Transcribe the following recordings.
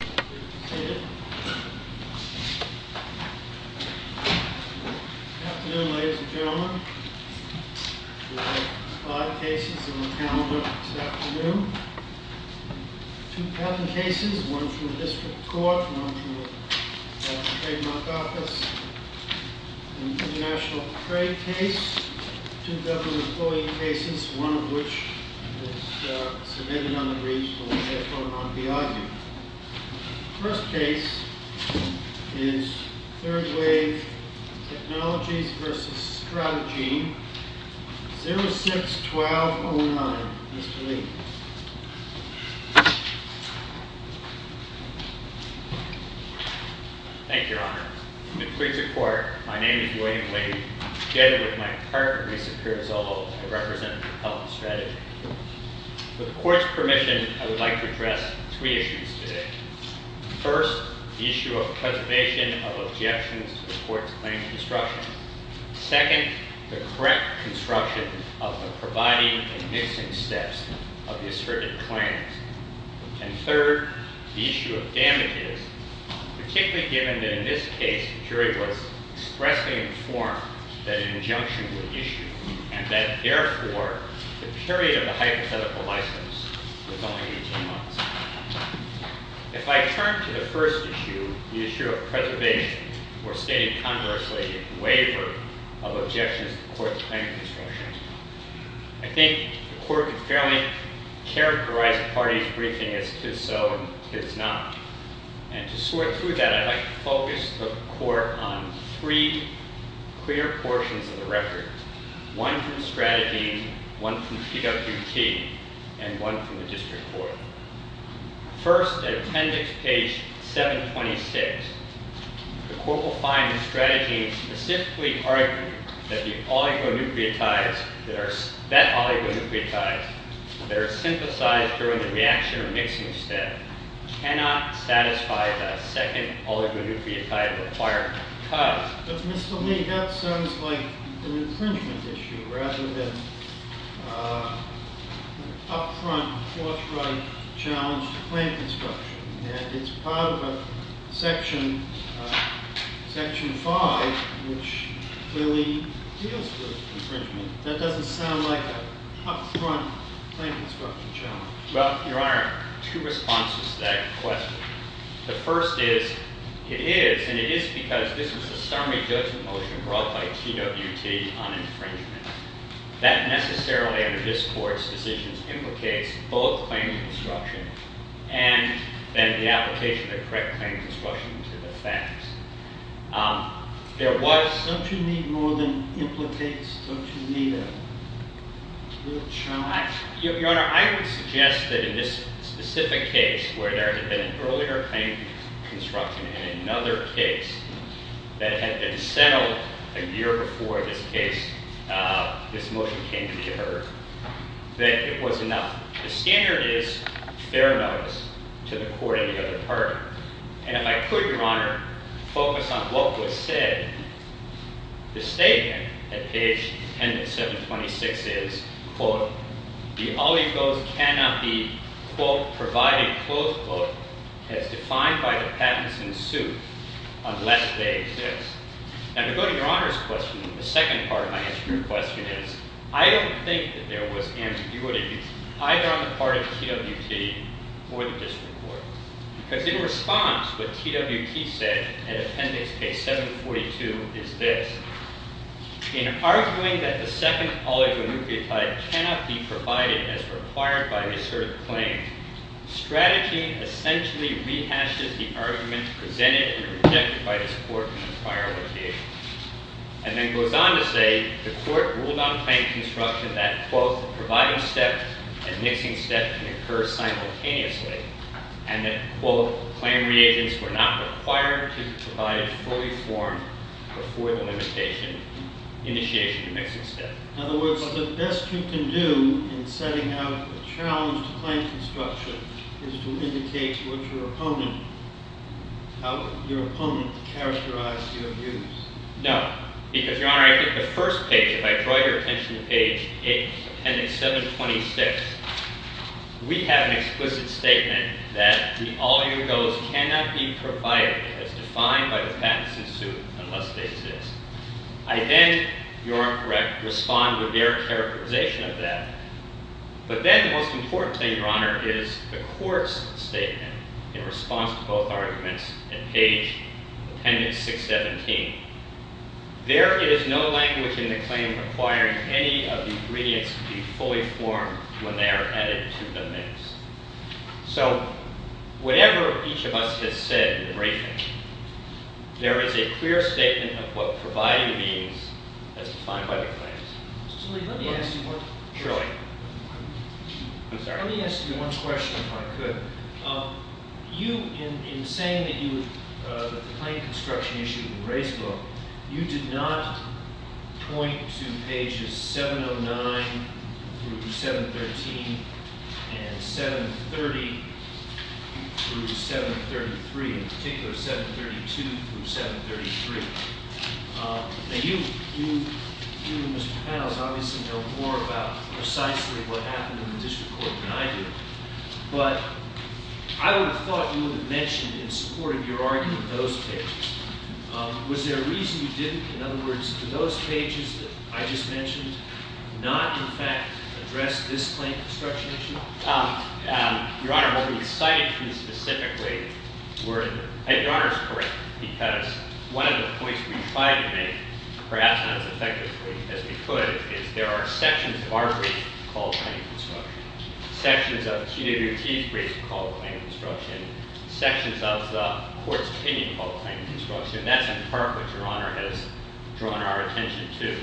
Good afternoon ladies and gentlemen. We have five cases on the calendar this afternoon. Two patent cases, one from the district court, one from the trademark office. An international trade case, two government employee cases, one of which was submitted on the regional telephone on Biazi. The first case is Third Wave Technologies v. Stratagene, 06-1209. Mr. Lee. Thank you, Your Honor. In the streets of court, my name is William Lee. Together with my partner, Lisa Pierazzolo, I represent the public strategy. With the court's permission, I would like to address three issues today. First, the issue of preservation of objections to the court's claims construction. Second, the correct construction of the providing and mixing steps of the asserted claims. And third, the issue of damages, particularly given that in this case, the jury was expressly informed that an injunction was issued, and that therefore, the period of the hypothetical license was only 18 months. If I turn to the first issue, the issue of preservation, or stated conversely, the waiver of objections to the court's claims construction, I think the court could fairly characterize the parties' briefing as if so and if it's not. And to sort through that, I'd like to focus the court on three clear portions of the record. One from strategy, one from PWT, and one from the district court. First, at appendix page 726, the court will find that strategy specifically argued that the oligonucleotides, that oligonucleotides that are synthesized during the reaction or mixing step cannot satisfy the second oligonucleotide required, But Mr. Lee, that sounds like an infringement issue, rather than an up-front, forthright challenge to claim construction. And it's part of a section 5, which really deals with infringement. That doesn't sound like an up-front claim construction challenge. Well, Your Honor, two responses to that question. The first is, it is, and it is because this was a summary judgment motion brought by PWT on infringement. That necessarily, under this court's decisions, implicates both claim construction and then the application of correct claim construction to the facts. Don't you need more than implicates? Don't you need a little charge? Your Honor, I would suggest that in this specific case, where there had been an earlier claim construction in another case, that had been settled a year before this case, this motion came to be heard, that it was enough. The standard is fair notice to the court and the other party. And if I could, Your Honor, focus on what was said, the statement at page 10 of 726 is, quote, the oligos cannot be, quote, provided, close quote, as defined by the patents in suit unless they exist. Now, to go to Your Honor's question, the second part of my answer to your question is, I don't think that there was ambiguity either on the part of PWT or the district court. Because in response, what PWT said in appendix case 742 is this. In arguing that the second oligonucleotide cannot be provided as required by this sort of claim, strategy essentially rehashes the argument presented and rejected by this court in the prior litigation. And then goes on to say, the court ruled on claim construction that, quote, claim reagents were not required to be provided fully formed before the limitation initiation and mixing step. In other words, the best you can do in setting out a challenge to claim construction is to indicate what your opponent, how your opponent characterized your views. No. Because, Your Honor, I think the first page, if I draw your attention to page, appendix 726, we have an explicit statement that the oligogos cannot be provided as defined by the patents in suit unless they exist. I then, Your Honor correct, respond with their characterization of that. But then the most important thing, Your Honor, is the court's statement in response to both arguments at page appendix 617. There is no language in the claim requiring any of the ingredients to be fully formed when they are added to the mix. So whatever each of us has said in the briefing, there is a clear statement of what providing means as defined by the claims. Mr. Lee, let me ask you one- Surely. Let me ask you one question if I could. You, in saying that you, that the claim construction issue in the race book, you did not point to pages 709 through 713 and 730 through 733. In particular, 732 through 733. Now, you and Mr. Panos obviously know more about precisely what happened in the district court than I do. But I would have thought you would have mentioned in support of your argument those pages. Was there a reason you didn't, in other words, for those pages that I just mentioned, not in fact address this claim construction issue? Your Honor, what we cited here specifically were, and Your Honor is correct, because one of the points we tried to make, perhaps not as effectively as we could, is there are sections of our brief called claim construction. Sections of QWT's brief called claim construction. Sections of the court's opinion called claim construction. That's in part what Your Honor has drawn our attention to.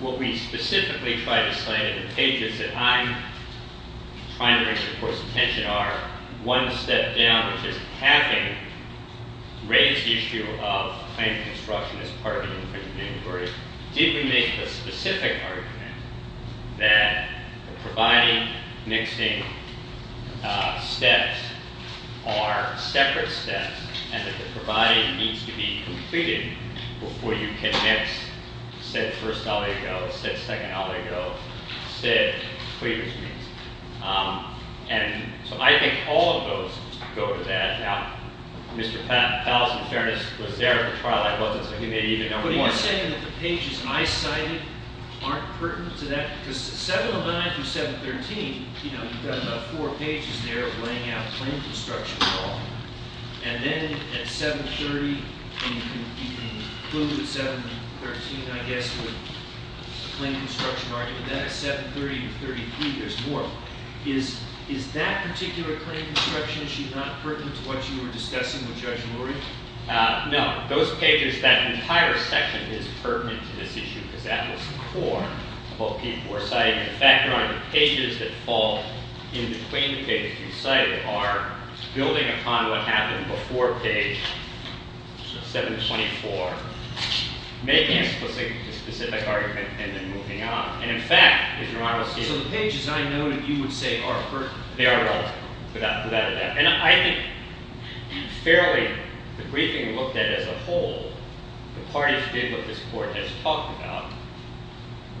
What we specifically tried to cite in the pages that I'm trying to bring to the court's attention are, one step down, which is having raised the issue of claim construction as part of the infringement inquiry, did we make the specific argument that the providing, mixing steps are separate steps, and that the providing needs to be completed before you can mix said first allego, said second allego, said claimant's needs. And so I think all of those go to that. Now, Mr. Fallon, in fairness, was there at the trial. I wasn't, so he may even know more. But are you saying that the pages I cited aren't pertinent to that? Because 709 through 713, you know, you've got about four pages there laying out claim construction law. And then at 730, and you can conclude at 713, I guess, with claim construction argument. Then at 730 and 733, there's more. Is that particular claim construction issue not pertinent to what you were discussing with Judge Lurie? No. Those pages, that entire section is pertinent to this issue because that was the core of what people were citing. In fact, Your Honor, the pages that fall in between the pages you cited are building upon what happened before page 724, making a specific argument, and then moving on. And in fact, as Your Honor will see. So the pages I noted you would say are pertinent? They are relevant, without a doubt. And I think fairly, the briefing looked at as a whole, the parties did what this court has talked about.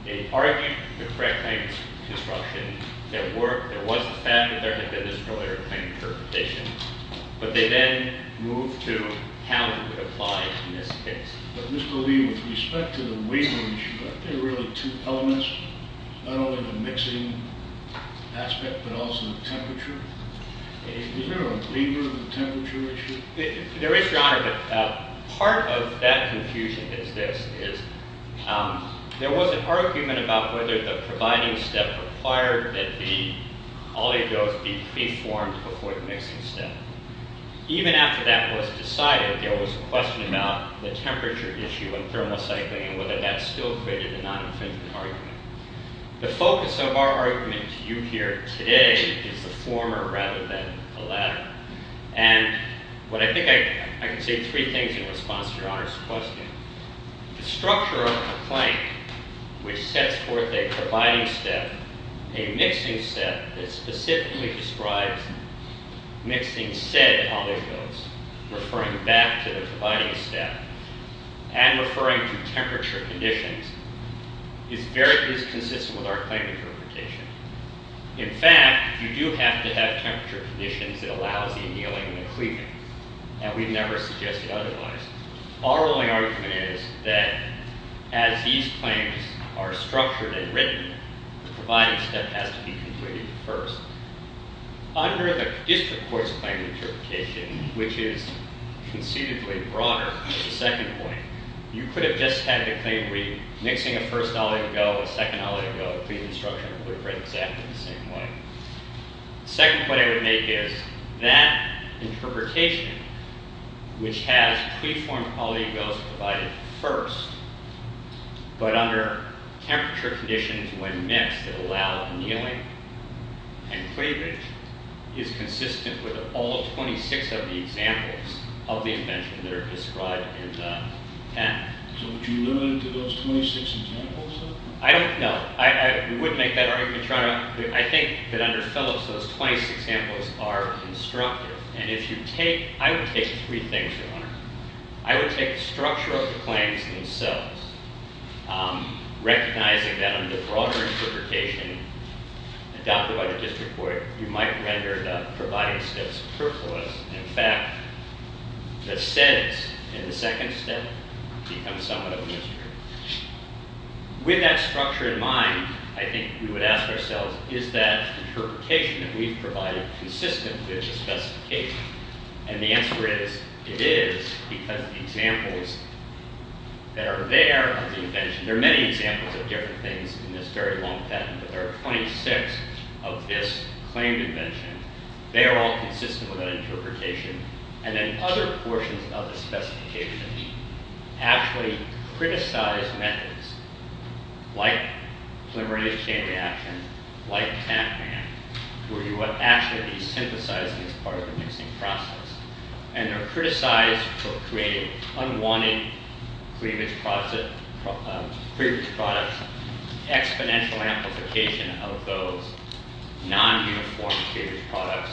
They argued the correct claims construction. There was the fact that there had been this earlier claim interpretation. But they then moved to how it would apply in this case. But Mr. Lurie, with respect to the waiver issue, aren't there really two elements? Not only the mixing aspect, but also the temperature? Is there a waiver of the temperature issue? There is, Your Honor. But part of that confusion is this. There was an argument about whether the providing step required that the oligos be preformed before the mixing step. Even after that was decided, there was a question about the temperature issue in thermal cycling and whether that still created a non-infringement argument. The focus of our argument to you here today is the former rather than the latter. And I think I can say three things in response to Your Honor's question. The structure of a claim, which sets forth a providing step, a mixing step, that specifically describes mixing said oligos, referring back to the providing step, and referring to temperature conditions, is very inconsistent with our claim interpretation. In fact, you do have to have temperature conditions that allows the annealing and the cleaving. And we've never suggested otherwise. Our only argument is that as these claims are structured and written, the providing step has to be completed first. Under the district court's claim interpretation, which is conceivably broader, the second point, you could have just had the claim read, mixing a first oligo, a second oligo, clean the structure, and put it right exactly the same way. The second point I would make is that interpretation, which has preformed polyigos provided first, but under temperature conditions when mixed that allow annealing and cleavage, is consistent with all 26 of the examples of the invention that are described in that. So would you limit it to those 26 examples? I don't know. I would make that argument. I think that under Phillips, those 26 examples are constructive. And if you take, I would take three things from there. I would take the structure of the claims themselves, recognizing that under broader interpretation, adopted by the district court, you might render the providing steps superfluous. In fact, the seds in the second step become somewhat of a mystery. With that structure in mind, I think we would ask ourselves, is that interpretation that we've provided consistent with the specification? And the answer is it is because the examples that are there of the invention, there are many examples of different things in this very long patent, but there are 26 of this claimed invention. They are all consistent with that interpretation. And then other portions of the specification actually criticize methods like polymerase chain reaction, like TAP man, where you would actually be synthesizing as part of the mixing process. And they're criticized for creating unwanted cleavage products, exponential amplification of those non-uniform cleavage products.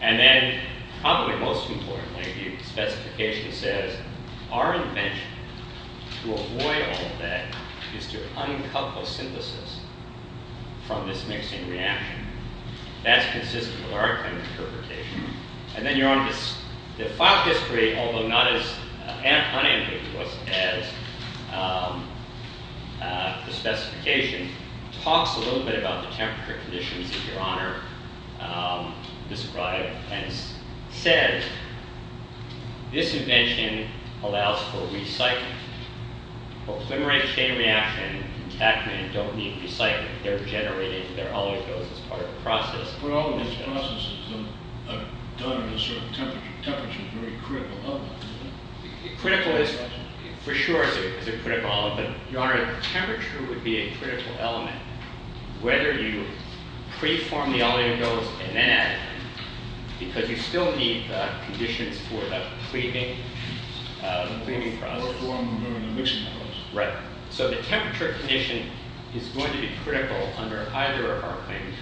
And then probably most importantly, the specification says our invention to avoid all of that is to uncouple synthesis from this mixing reaction. That's consistent with our kind of interpretation. And then your own, the final history, although not as unambiguous as the specification, talks a little bit about the temperature conditions that your honor described and said, this invention allows for recycling. Polymerase chain reaction and TAP man don't need recycling. They're generated, they're all of those as part of the process. But all of those processes are done at a certain temperature. Temperature is a very critical element, isn't it? Critical is, for sure, it's a critical element. But your honor, temperature would be a critical element, whether you preform the oligos and then add them, because you still need the conditions for the cleaving product. Or form them during the mixing process. Right. So the temperature condition is going to be critical under either of our claims.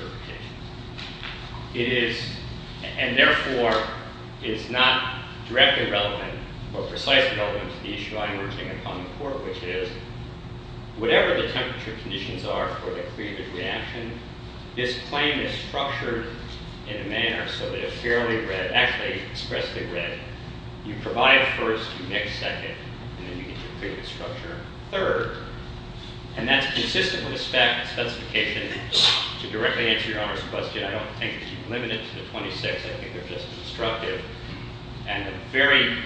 It is, and therefore is not directly relevant or precisely relevant to the issue I'm urging upon the court, which is whatever the temperature conditions are for the cleavage reaction, this claim is structured in a manner so that it's fairly red, actually expressively red. You provide first, you mix second, and then you get your cleavage structure. Third, and that's consistent with the specification to directly answer your honor's question. I don't think you can limit it to the 26. I think they're just constructive. And a very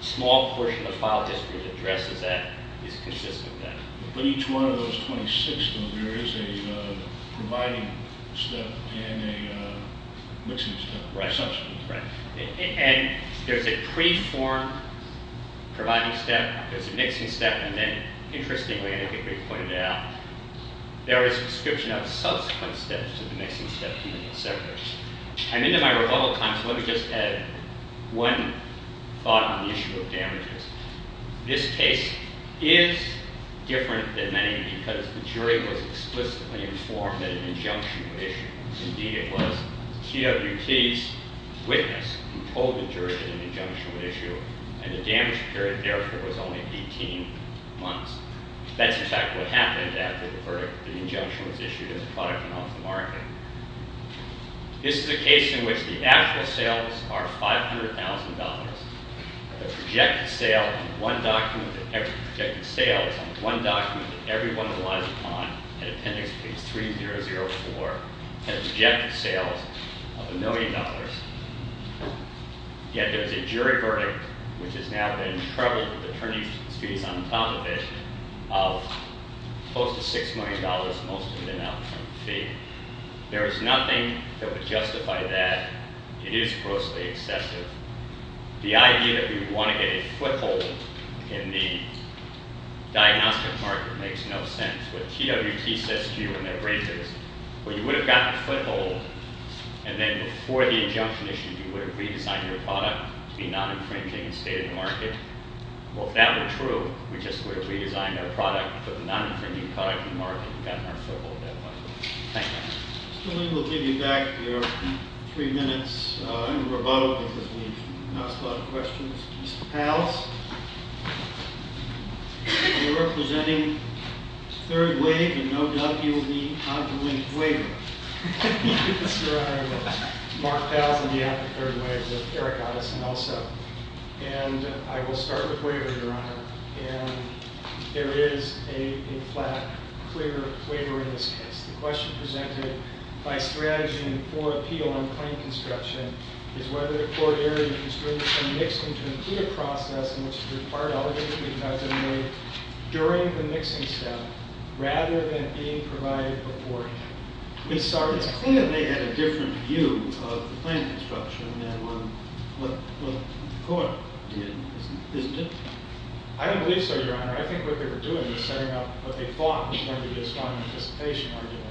small portion of the file history that addresses that is consistent with that. But each one of those 26, though, there is a providing step and a mixing step. Right. And there's a preform providing step. There's a mixing step. And then, interestingly, I think they pointed out, there is a description of subsequent steps to the mixing step, even in several cases. I'm into my rebuttal time, so let me just add one thought on the issue of damages. This case is different than many because the jury was explicitly informed that an injunction was issued. Indeed, it was TWT's witness who told the jury that an injunction was issued, and the damage period, therefore, was only 18 months. That's, in fact, what happened after the verdict, the injunction was issued, and the product went off the market. This is a case in which the actual sales are $500,000. The projected sale is on one document that everyone relies upon, at appendix page 3004, and the projected sales of $1 million. Yet there's a jury verdict, which has now been troubled with attorney's fees on top of it, of close to $6 million, most of them out in front of the fee. There is nothing that would justify that. It is grossly excessive. The idea that we would want to get a foothold in the diagnostic market makes no sense. That's what TWT says to you in their briefings. Well, you would have gotten a foothold, and then before the injunction issued, you would have redesigned your product to be non-infringing and stay in the market. Well, if that were true, we just would have redesigned our product, put the non-infringing product in the market, and gotten our foothold that way. Thank you. Mr. Lee, we'll give you back your three minutes in rebuttal because we've asked a lot of questions. Mr. Powles, you're representing Third Wave, and no doubt you'll be out to win a waiver. Yes, Your Honor. Mark Powles on behalf of Third Wave, with Eric Otteson also. And I will start with waiver, Your Honor. And there is a flat, clear waiver in this case. The question presented by strategy and poor appeal on claim construction is whether the court erred in constraints on mixing to complete a process in which the required elements would be effectively made during the mixing step rather than being provided before hand. It's clear that they had a different view of the claim construction than what the court did, isn't it? I don't believe so, Your Honor. I think what they were doing was setting up what they thought was going to be a strong anticipation argument.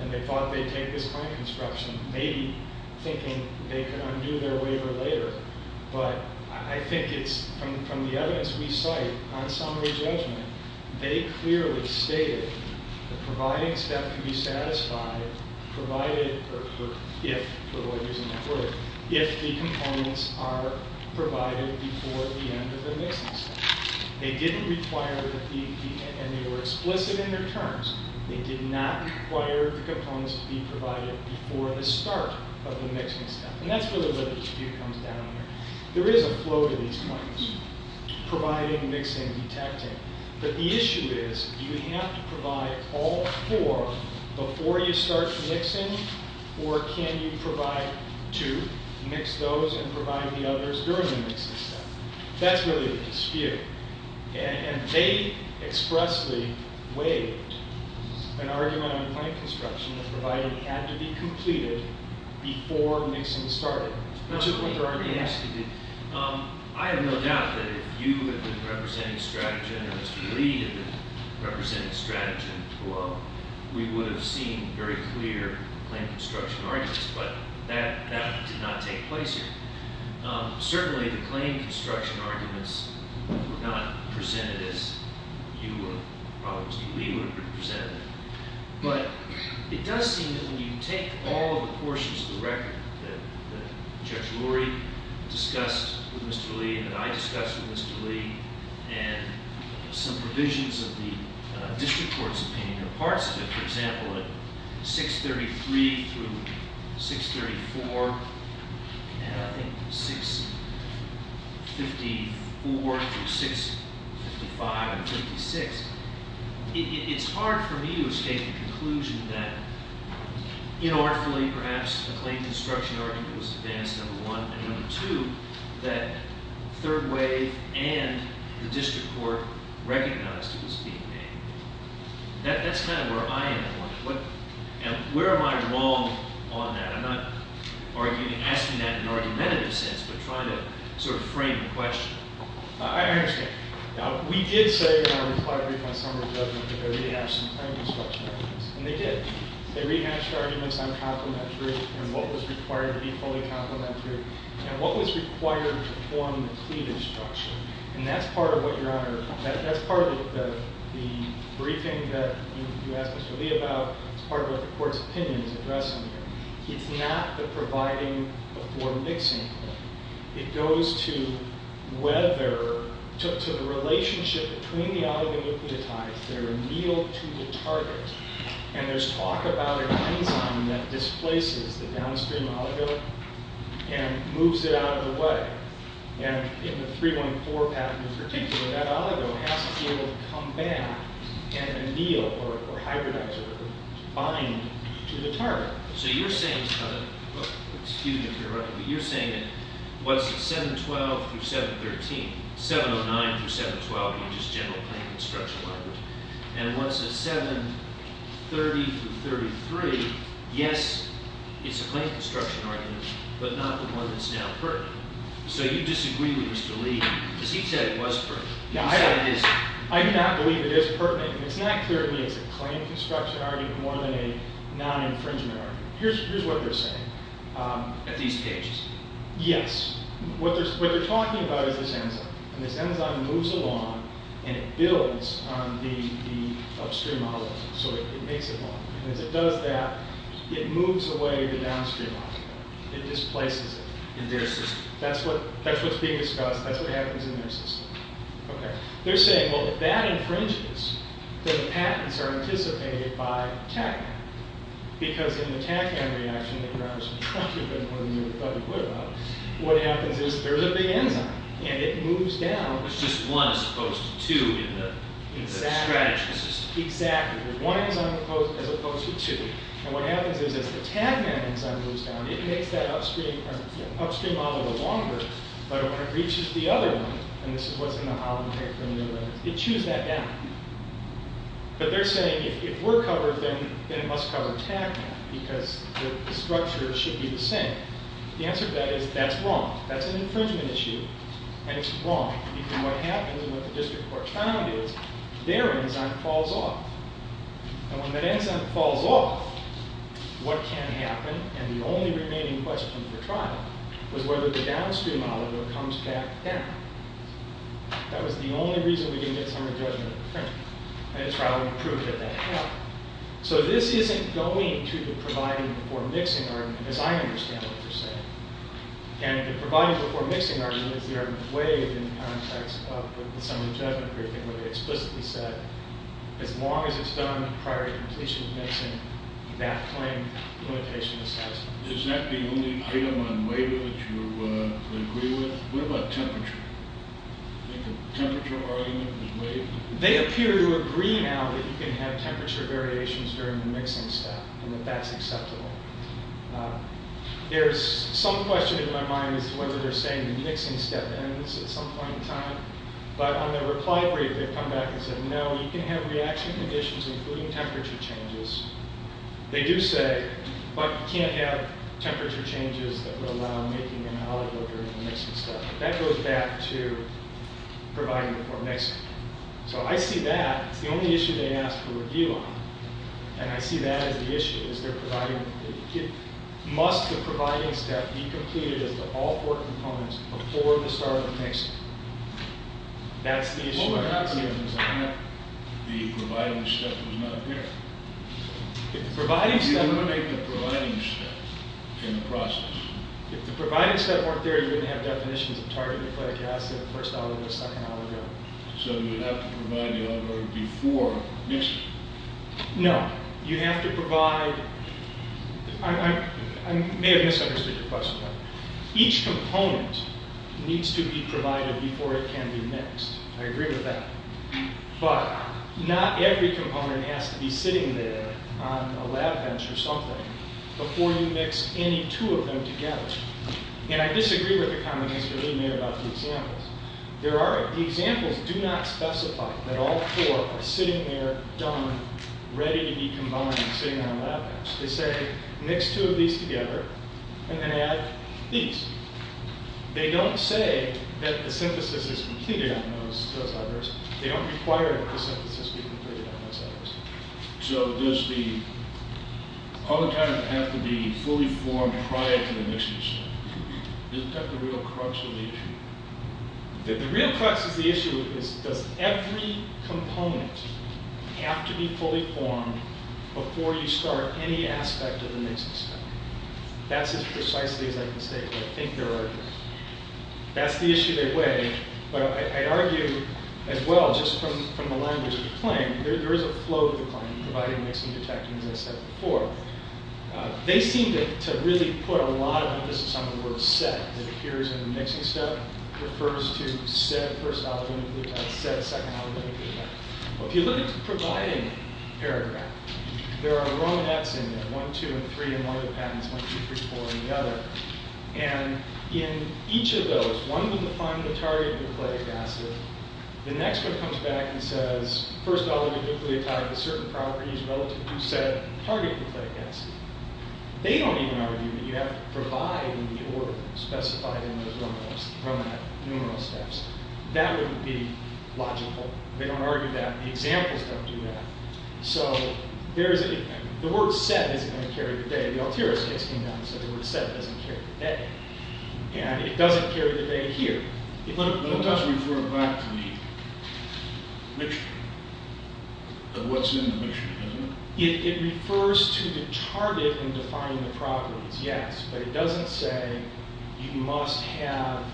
And they thought they'd take this claim construction, maybe thinking they could undo their waiver later. But I think it's, from the evidence we cite on summary judgment, they clearly stated the providing step could be satisfied provided, or if, to avoid using that word, if the components are provided before the end of the mixing step. They didn't require that the, and they were explicit in their terms. They did not require the components to be provided before the start of the mixing step. And that's really where the dispute comes down here. There is a flow to these claims, providing, mixing, detecting. But the issue is, do you have to provide all four before you start mixing? Or can you provide two, mix those and provide the others during the mixing step? That's really the dispute. And they expressly waived an argument on claim construction that provided it had to be completed before mixing started. That's what the argument is. I have no doubt that if you had been representing strategy, I know Mr. Lee had been representing strategy, well, we would have seen very clear claim construction arguments. But that did not take place here. Certainly, the claim construction arguments were not presented as you or probably Mr. Lee would have presented. But it does seem that when you take all the portions of the record that Judge Lurie discussed with Mr. Lee and that I discussed with Mr. Lee, and some provisions of the district court's opinion, and the parts of it, for example, at 633 through 634, and I think 654 through 655 and 56, it's hard for me to escape the conclusion that inartifully, perhaps, the claim construction argument was advanced, number one. And number two, that third wave and the district court recognized it was being made. That's kind of where I am at. Where am I wrong on that? I'm not asking that in an argumentative sense, but trying to sort of frame the question. I understand. We did say in our reply brief on summary judgment that there were rehashed claim construction arguments. And they did. They rehashed arguments on complementary and what was required to be fully complementary and what was required to form the cleavage structure. And that's part of what Your Honor, that's part of the briefing that you asked Mr. Lee about. It's part of what the court's opinion is addressing here. It's not the providing before mixing. It goes to whether, to the relationship between the oligonucleotides that are annealed to the target. And there's talk about an enzyme that displaces the downstream oligo and moves it out of the way. And in the 3.4 patent in particular, that oligo has to be able to come back and anneal or hybridize or bind to the target. So you're saying, excuse me if you're running, but you're saying that what's 7.12 through 7.13, 7.09 through 7.12 is just general claim construction argument. And what's a 7.30 through 7.33, yes, it's a claim construction argument, but not the one that's now heard. So you disagree with Mr. Lee, because he said it was pertinent. I do not believe it is pertinent. It's not clear to me it's a claim construction argument more than a non-infringement argument. Here's what they're saying. At these stages? Yes. What they're talking about is this enzyme. And this enzyme moves along and it builds on the upstream oligo. So it makes it long. And as it does that, it moves away the downstream oligo. It displaces it. In their system. That's what's being discussed. That's what happens in their system. Okay. They're saying, well, if that infringes, then the patents are anticipated by TaqMan. Because in the TaqMan reaction that you're actually talking about more than you thought you would about, what happens is there's a big enzyme, and it moves down. It's just one as opposed to two in the strategy system. Exactly. Exactly. There's one enzyme as opposed to two. And what happens is as the TaqMan enzyme moves down, it makes that upstream oligo longer. But when it reaches the other one, and this is what's in the Hollenberg, it chews that down. But they're saying if we're covered, then it must cover TaqMan. Because the structure should be the same. The answer to that is that's wrong. That's an infringement issue. And it's wrong. Because what happens and what the district court found is their enzyme falls off. And when that enzyme falls off, what can happen, and the only remaining question for trial, was whether the downstream oligo comes back down. That was the only reason we didn't get summary judgment in the briefing. And in trial, we proved that that happened. So this isn't going to the providing-before-mixing argument, as I understand what you're saying. And the providing-before-mixing argument is the argument waived in the context of the summary judgment briefing where they explicitly said as long as it's done prior to completion of mixing, that claim limitation is satisfied. Is that the only item on waiver that you agree with? What about temperature? I think the temperature argument was waived. They appear to agree now that you can have temperature variations during the mixing step and that that's acceptable. There's some question in my mind as to whether they're saying the mixing step ends at some point in time. But on the reply brief, they've come back and said, no, you can have reaction conditions including temperature changes. They do say, but you can't have temperature changes that would allow making an oligo during the mixing step. That goes back to providing-before-mixing. So I see that as the only issue they ask for review on, and I see that as the issue, is they're providing-must the providing step be completed as the all four components before the start of the mixing? That's the issue. What would happen is if the providing step was not there? If the providing step- If you eliminate the providing step in the process. If the providing step weren't there, you wouldn't have definitions of target nucleic acid, first oligo, second oligo. So you would have to provide the oligo before mixing? No. You have to provide-I may have misunderstood your question. Each component needs to be provided before it can be mixed. I agree with that. But not every component has to be sitting there on a lab bench or something before you mix any two of them together. And I disagree with the comment Mr. Lee made about the examples. There are-the examples do not specify that all four are sitting there, done, ready to be combined, sitting on a lab bench. They say, mix two of these together, and then add these. They don't say that the synthesis is completed on those others. They don't require that the synthesis be completed on those others. So does the-all the time it has to be fully formed prior to the mixing step. Isn't that the real crux of the issue? The real crux of the issue is, does every component have to be fully formed before you start any aspect of the mixing step? That's as precisely as I can say, but I think there are-that's the issue they weigh. But I'd argue as well, just from the language of the claim, there is a flow of the claim, providing, mixing, detecting, as I said before. They seem to really put a lot of emphasis on the word set. It appears in the mixing step, refers to said first oligonucleotide, said second oligonucleotide. If you look at the providing paragraph, there are romanettes in there. One, two, and three in one of the patents, one, two, three, four in the other. And in each of those, one will define the target nucleic acid. The next one comes back and says, first oligonucleotide with certain properties relative to said target nucleic acid. They don't even argue that you have to provide in the order specified in those romanette numeral steps. That wouldn't be logical. They don't argue that. The examples don't do that. So, there is a-the word set isn't going to carry the day. The Altiero case came down and said the word set doesn't carry the day. And it doesn't carry the day here. It doesn't refer back to the mixture, of what's in the mixture, does it? It refers to the target in defining the properties, yes. But it doesn't say you must have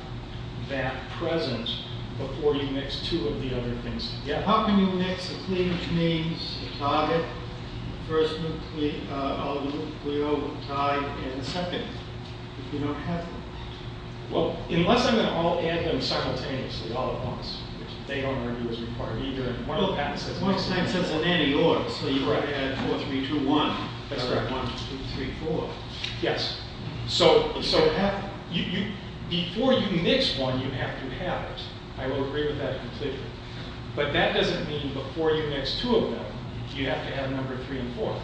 that present before you mix two of the other things. Yeah. How can you mix the cleavage means, the target, first oligonucleotide, and second, if you don't have them? Well, unless I'm going to all add them simultaneously all at once, which they don't argue is required either. And one of the patents says- Well, Einstein said it's an anti-order, so you add 4, 3, 2, 1. That's correct. 1, 2, 3, 4. Yes. So, before you mix one, you have to have it. I will agree with that completely. But that doesn't mean before you mix two of them, you have to have a number of 3 and 4.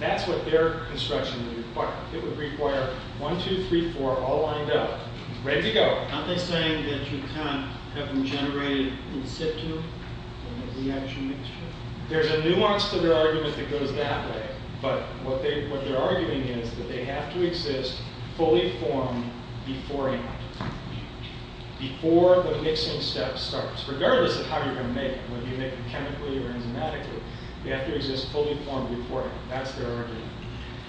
That's what their construction would require. It would require 1, 2, 3, 4, all lined up, ready to go. Aren't they saying that you can't have them generated in situ, in a reaction mixture? There's a nuance to their argument that goes that way. But what they're arguing is that they have to exist fully formed beforehand, before the mixing step starts. Regardless of how you're going to make it, whether you make it chemically or enzymatically, they have to exist fully formed beforehand. That's their argument.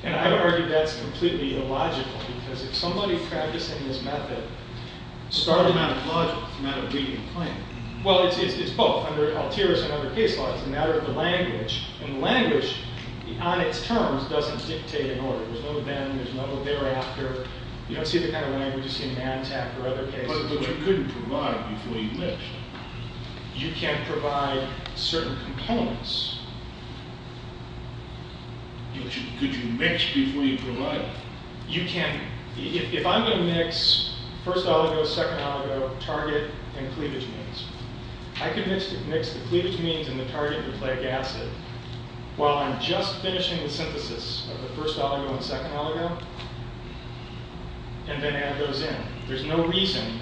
And I would argue that's completely illogical, because if somebody's practicing this method- It's not a matter of logic, it's a matter of reading the claim. Well, it's both, under Althaeus and under case law. It's a matter of the language. And language, on its terms, doesn't dictate an order. There's no then, there's no thereafter. You don't see the kind of language you see in ANTAC or other cases. But you couldn't provide before you mixed. You can't provide certain components. Could you mix before you provide? You can. If I'm going to mix first oligo, second oligo, target, and cleavage means, I could mix the cleavage means and the target and the plague acid, while I'm just finishing the synthesis of the first oligo and second oligo, and then add those in. There's no reason,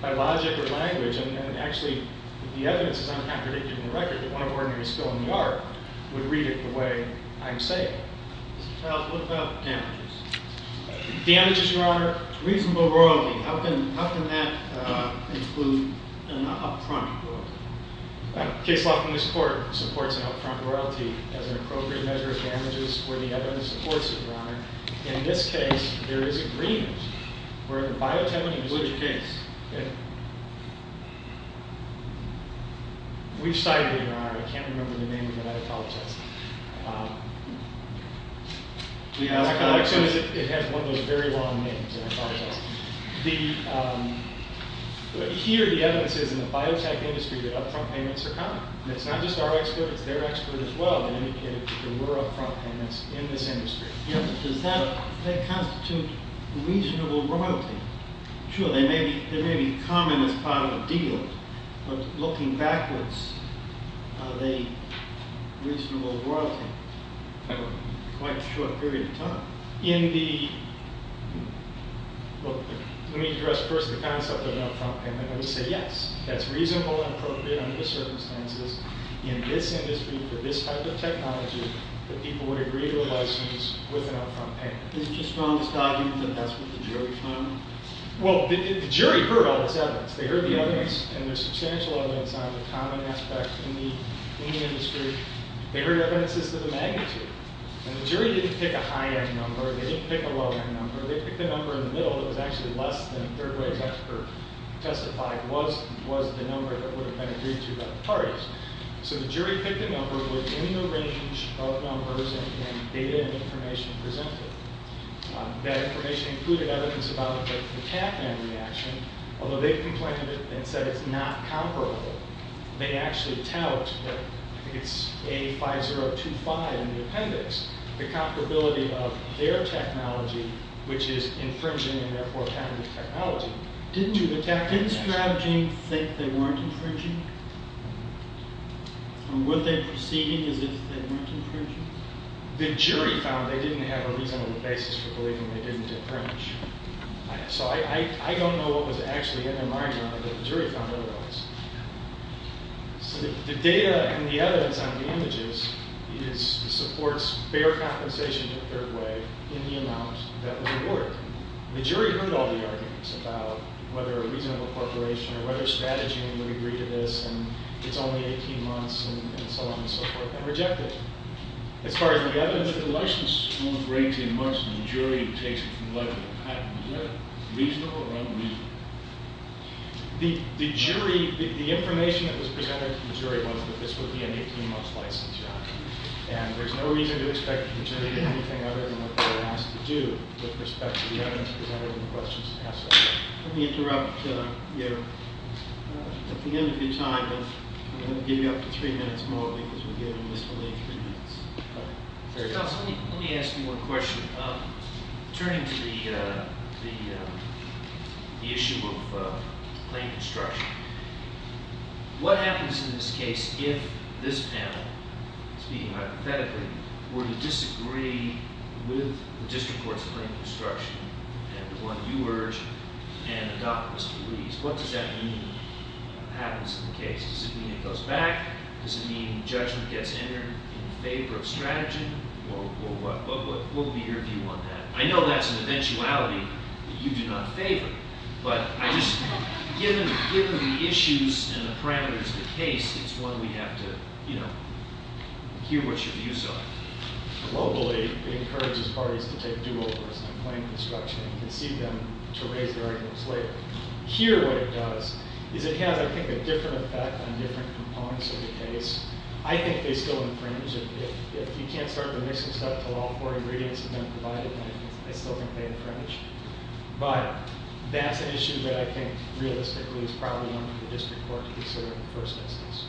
by logic or language, and actually, the evidence is uncontradictory in the record, that one ordinary spill in the yard would read it the way I'm saying it. Now, what about damages? Damages, Your Honor, reasonable royalty. How can that include an up-front royalty? Case law, from this court, supports an up-front royalty as an appropriate measure of damages where the evidence supports it, Your Honor. In this case, there is agreement. Which case? Which side are you on? I can't remember the name of it. I apologize. It has one of those very long names. I apologize. Here, the evidence is, in the biotech industry, that up-front payments are common. It's not just our expert. It's their expert, as well, that indicated that there were up-front payments in this industry. Does that constitute reasonable royalty? Sure, they may be common as part of a deal, but looking backwards, are they reasonable royalty? For quite a short period of time. Let me address first the concept of up-front payment. I would say, yes, that's reasonable and appropriate under the circumstances in this industry for this type of technology that people would agree to a license with an up-front payment. Isn't your strongest argument that that's what the jury found? Well, the jury heard all this evidence. They heard the evidence, and there's substantial evidence on the common aspect in the industry. They heard evidences to the magnitude. And the jury didn't pick a high-end number. They didn't pick a low-end number. They picked a number in the middle that was actually less than a third-rate expert testified was the number that would have been agreed to by the parties. So the jury picked a number within the range of numbers and data and information presented. That information included evidence about the Tappan reaction, although they've complained and said it's not comparable. They actually tout that it's A5025 in the appendix, the comparability of their technology, which is infringing and therefore patented technology. Didn't the Tappan strategy think they weren't infringing? Were they proceeding as if they weren't infringing? The jury found they didn't have a reasonable basis for believing they didn't infringe. So I don't know what was actually in their minds, but the jury found otherwise. So the data and the evidence on the images supports fair compensation in a third way in the amount that was awarded. The jury heard all the arguments about whether a reasonable corporation or whether a strategy would agree to this, and it's only 18 months, and so on and so forth, and rejected it. As far as the evidence that the license is only for 18 months and the jury takes it from 11 to patent, is that reasonable or unreasonable? The information that was presented to the jury was that this would be an 18-month license, and there's no reason to expect the jury to do anything other than what they were asked to do with respect to the evidence presented and the questions asked. Let me interrupt you. At the end of your time, I'm going to give you up to three minutes more because we're giving this only three minutes. Mr. Thompson, let me ask you one question. Turning to the issue of claim construction, what happens in this case if this panel, speaking hypothetically, were to disagree with the district courts' claim construction and the one you urge and the documents you release, what does that mean happens in the case? Does it mean it goes back? Does it mean judgment gets entered in favor of strategy? What would be your view on that? I know that's an eventuality that you do not favor, but given the issues and the parameters of the case, it's one we have to hear what your views are. Globally, it encourages parties to take do-overs on claim construction and concede them to raise their arguments later. Here what it does is it has, I think, a different effect on different components of the case. I think they still infringe. If you can't start the mixing stuff until all four ingredients have been provided, I still think they infringe. But that's an issue that I think realistically is probably one for the district court to consider in the first instance.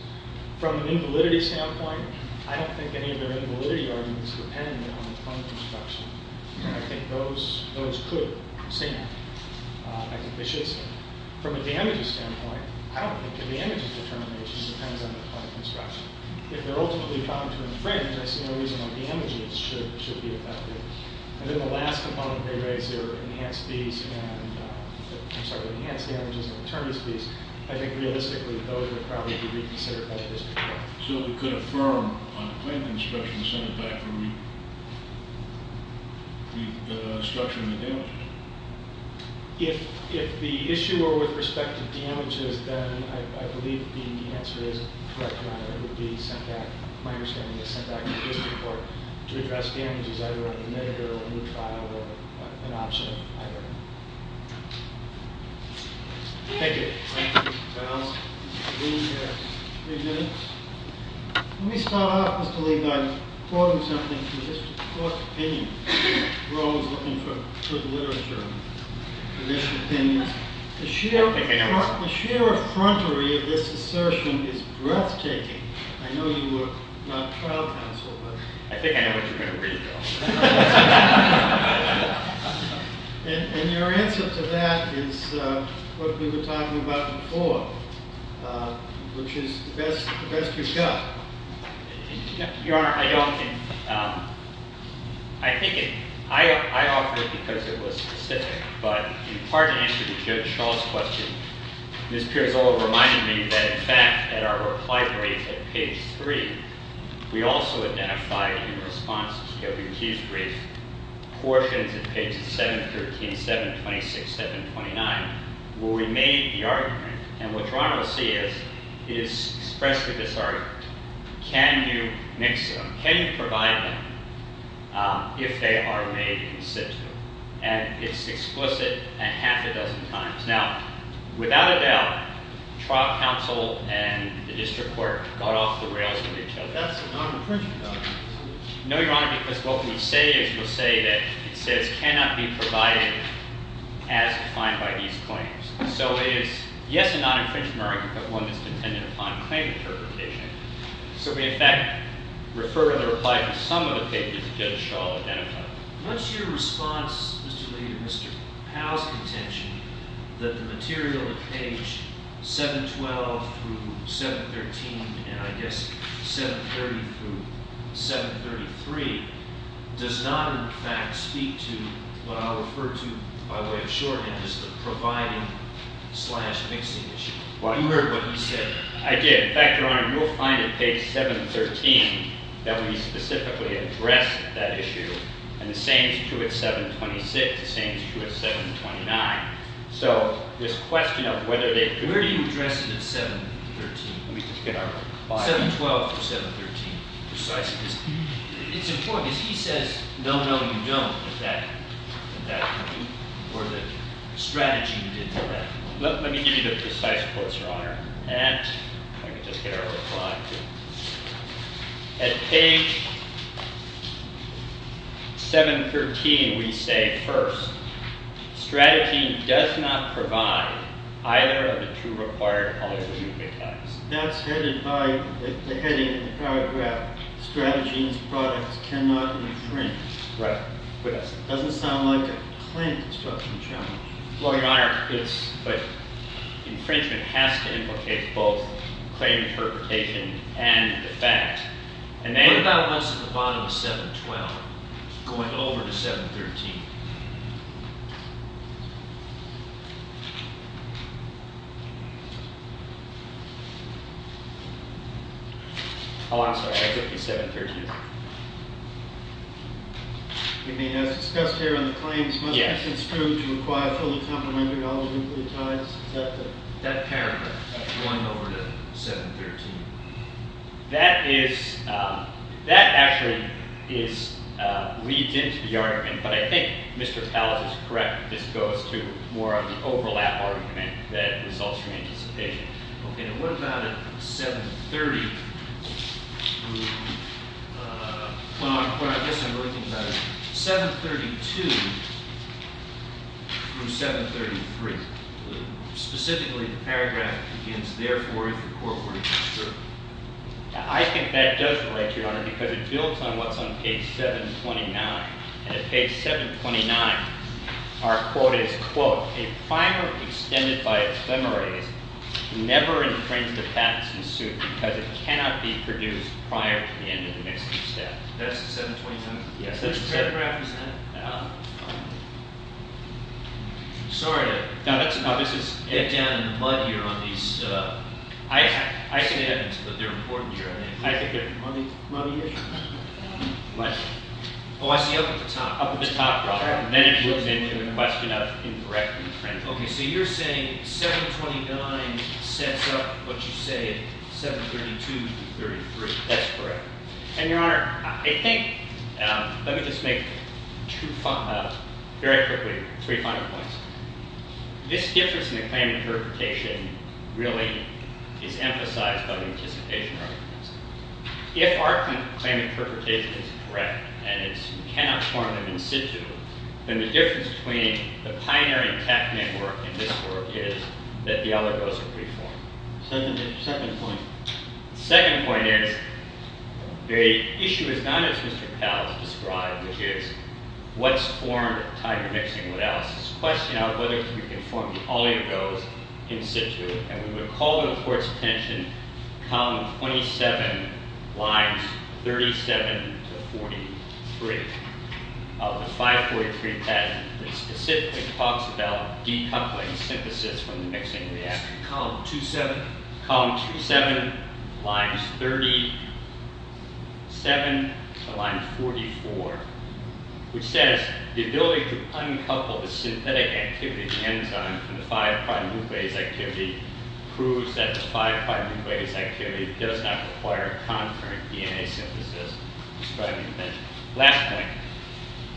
From an invalidity standpoint, I don't think any of their invalidity arguments depend on the claim construction. I think those could stand. I think they should stand. From a damages standpoint, I don't think the damages determination depends on the claim construction. If they're ultimately bound to infringe, I see no reason why damages should be affected. And then the last component, they raise their enhanced damages and attorneys' fees. I think realistically, those would probably be reconsidered by the district court. So we could affirm on the claim construction, send it back and restructure the damages? If the issue were with respect to damages, then I believe the answer is correct, Your Honor. It would be sent back. My understanding is sent back to the district court to address damages either on the amended or removed file, or an option either. Thank you. Thank you, Mr. Towns. Three minutes. Let me start off, Mr. Lee, by quoting something from the district court's opinion. We're always looking for good literature in district opinions. The sheer effrontery of this assertion is breathtaking. I know you were not trial counsel, but... I think I know what you're going to read, though. And your answer to that is what we were talking about before, which is the best you've got. Your Honor, I don't think... I think it... I offered it because it was specific, but in part in answer to Judge Schall's question, Ms. Pirozola reminded me that in fact, at our reply brief at page three, we also identified in response to the appeal, portions of page 713, 726, 729, where we made the argument. And what Your Honor will see is, is expressed in this argument, can you mix them? Can you provide them if they are made in situ? And it's explicit a half a dozen times. Now, without a doubt, trial counsel and the district court got off the rails with each other. That's a non-apprehension, though. No, Your Honor, because what we say is, we'll say that it says cannot be provided as defined by these claims. So it is, yes, a non-apprehension argument, but one that's dependent upon claim interpretation. So we, in fact, refer to the reply to some of the pages that Judge Schall identified. What's your response, Mr. Lee, to Mr. Powell's contention that the material at page 712 through 713, and I guess 730 through 733, does not, in fact, speak to what I'll refer to by way of shorthand as the providing-slash-mixing issue? You heard what he said. I did. In fact, Your Honor, you'll find at page 713 that we specifically address that issue, and the same is true at 726, the same is true at 729. So this question of whether they... Where do you address it at 713? 712 through 713, precisely. It's important, because he says, no, no, you don't at that point, or that strategy didn't at that point. Let me give you the precise quotes, Your Honor, and I can just get our reply. At page 713, we say, first, strategy does not provide either of the two required alternative mechanics. That's headed by the heading in the paragraph, strategy's products cannot infringe. Right. It doesn't sound like a claim-destruction challenge. Well, Your Honor, it's... infringement has to implicate both claim interpretation and the fact. What about us at the bottom of 712 going over to 713? Oh, I'm sorry. I took the 713. You mean, as discussed here on the claims, must be construed to require a fully-complementary algorithm for the ties? Is that the... That paragraph, going over to 713. That is... That actually is... leads into the argument, but I think Mr. Tallis is correct This goes to more of the overlap argument that results from anticipation. Okay, now what about at 730 through... Well, I guess I'm looking at 732 through 733. Specifically, the paragraph begins, therefore, if the court were to observe. I think that does relate, Your Honor, because it builds on what's on page 729, and at page 729, our quote is, quote, a primer extended by ephemeris never infringes the patents in suit because it cannot be produced prior to the end of the mixing step. That's at 729? Yes, that's at 729. Which paragraph is that? I don't know. Sorry, I... No, that's... No, this is... They're down in the mud here on these... I see evidence, but they're important, Your Honor. I think they're muddy issues. What? Oh, I see, up at the top. Up at the top, right. Then it moves into a question of incorrect infringement. Okay, so you're saying 729 sets up what you say at 732 through 733. That's correct. And, Your Honor, I think... Let me just make two... Very quickly, three final points. This difference in the claim interpretation really is emphasized by the anticipation arguments. If our claim interpretation is correct and it cannot form an in situ, then the difference between the pioneering technique work and this work is that the oligos are reformed. Second point. Second point is the issue is not as Mr. Powell has described, which is what's formed, tiger mixing, what else. It's a question of whether we can form the oligos in situ. And we're going to call to the Court's attention column 27, lines 37 to 43, of the 543 patent that specifically talks about decoupling synthesis from the mixing reaction. Column 27. Column 27, lines 37 to line 44, which says, the ability to uncouple the synthetic activity, the enzyme from the 5' nuclease activity proves that the 5' nuclease activity does not require concurrent DNA synthesis describing the invention. Last point.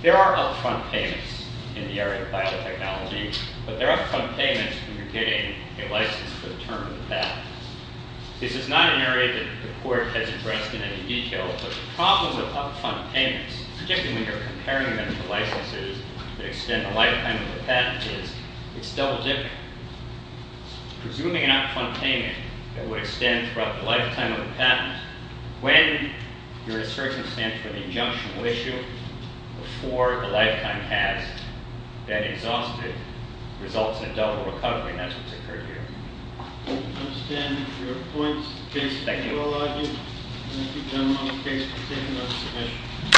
There are up-front payments in the area of biotechnology, but they're up-front payments when you're getting a license for the term of the patent. This is not an area that the Court has addressed in any detail, but the problem with up-front payments, particularly when you're comparing them to licenses to the extent the lifetime of the patent is, it's double-dip. Presuming an up-front payment that would extend throughout the lifetime of the patent, when you're in a circumstance where the injunctional issue before the lifetime has been exhausted results in a double recoupling, that's what's occurred here. I understand your points, in case the Court will allow you. Thank you, gentlemen, on the case for taking up this issue.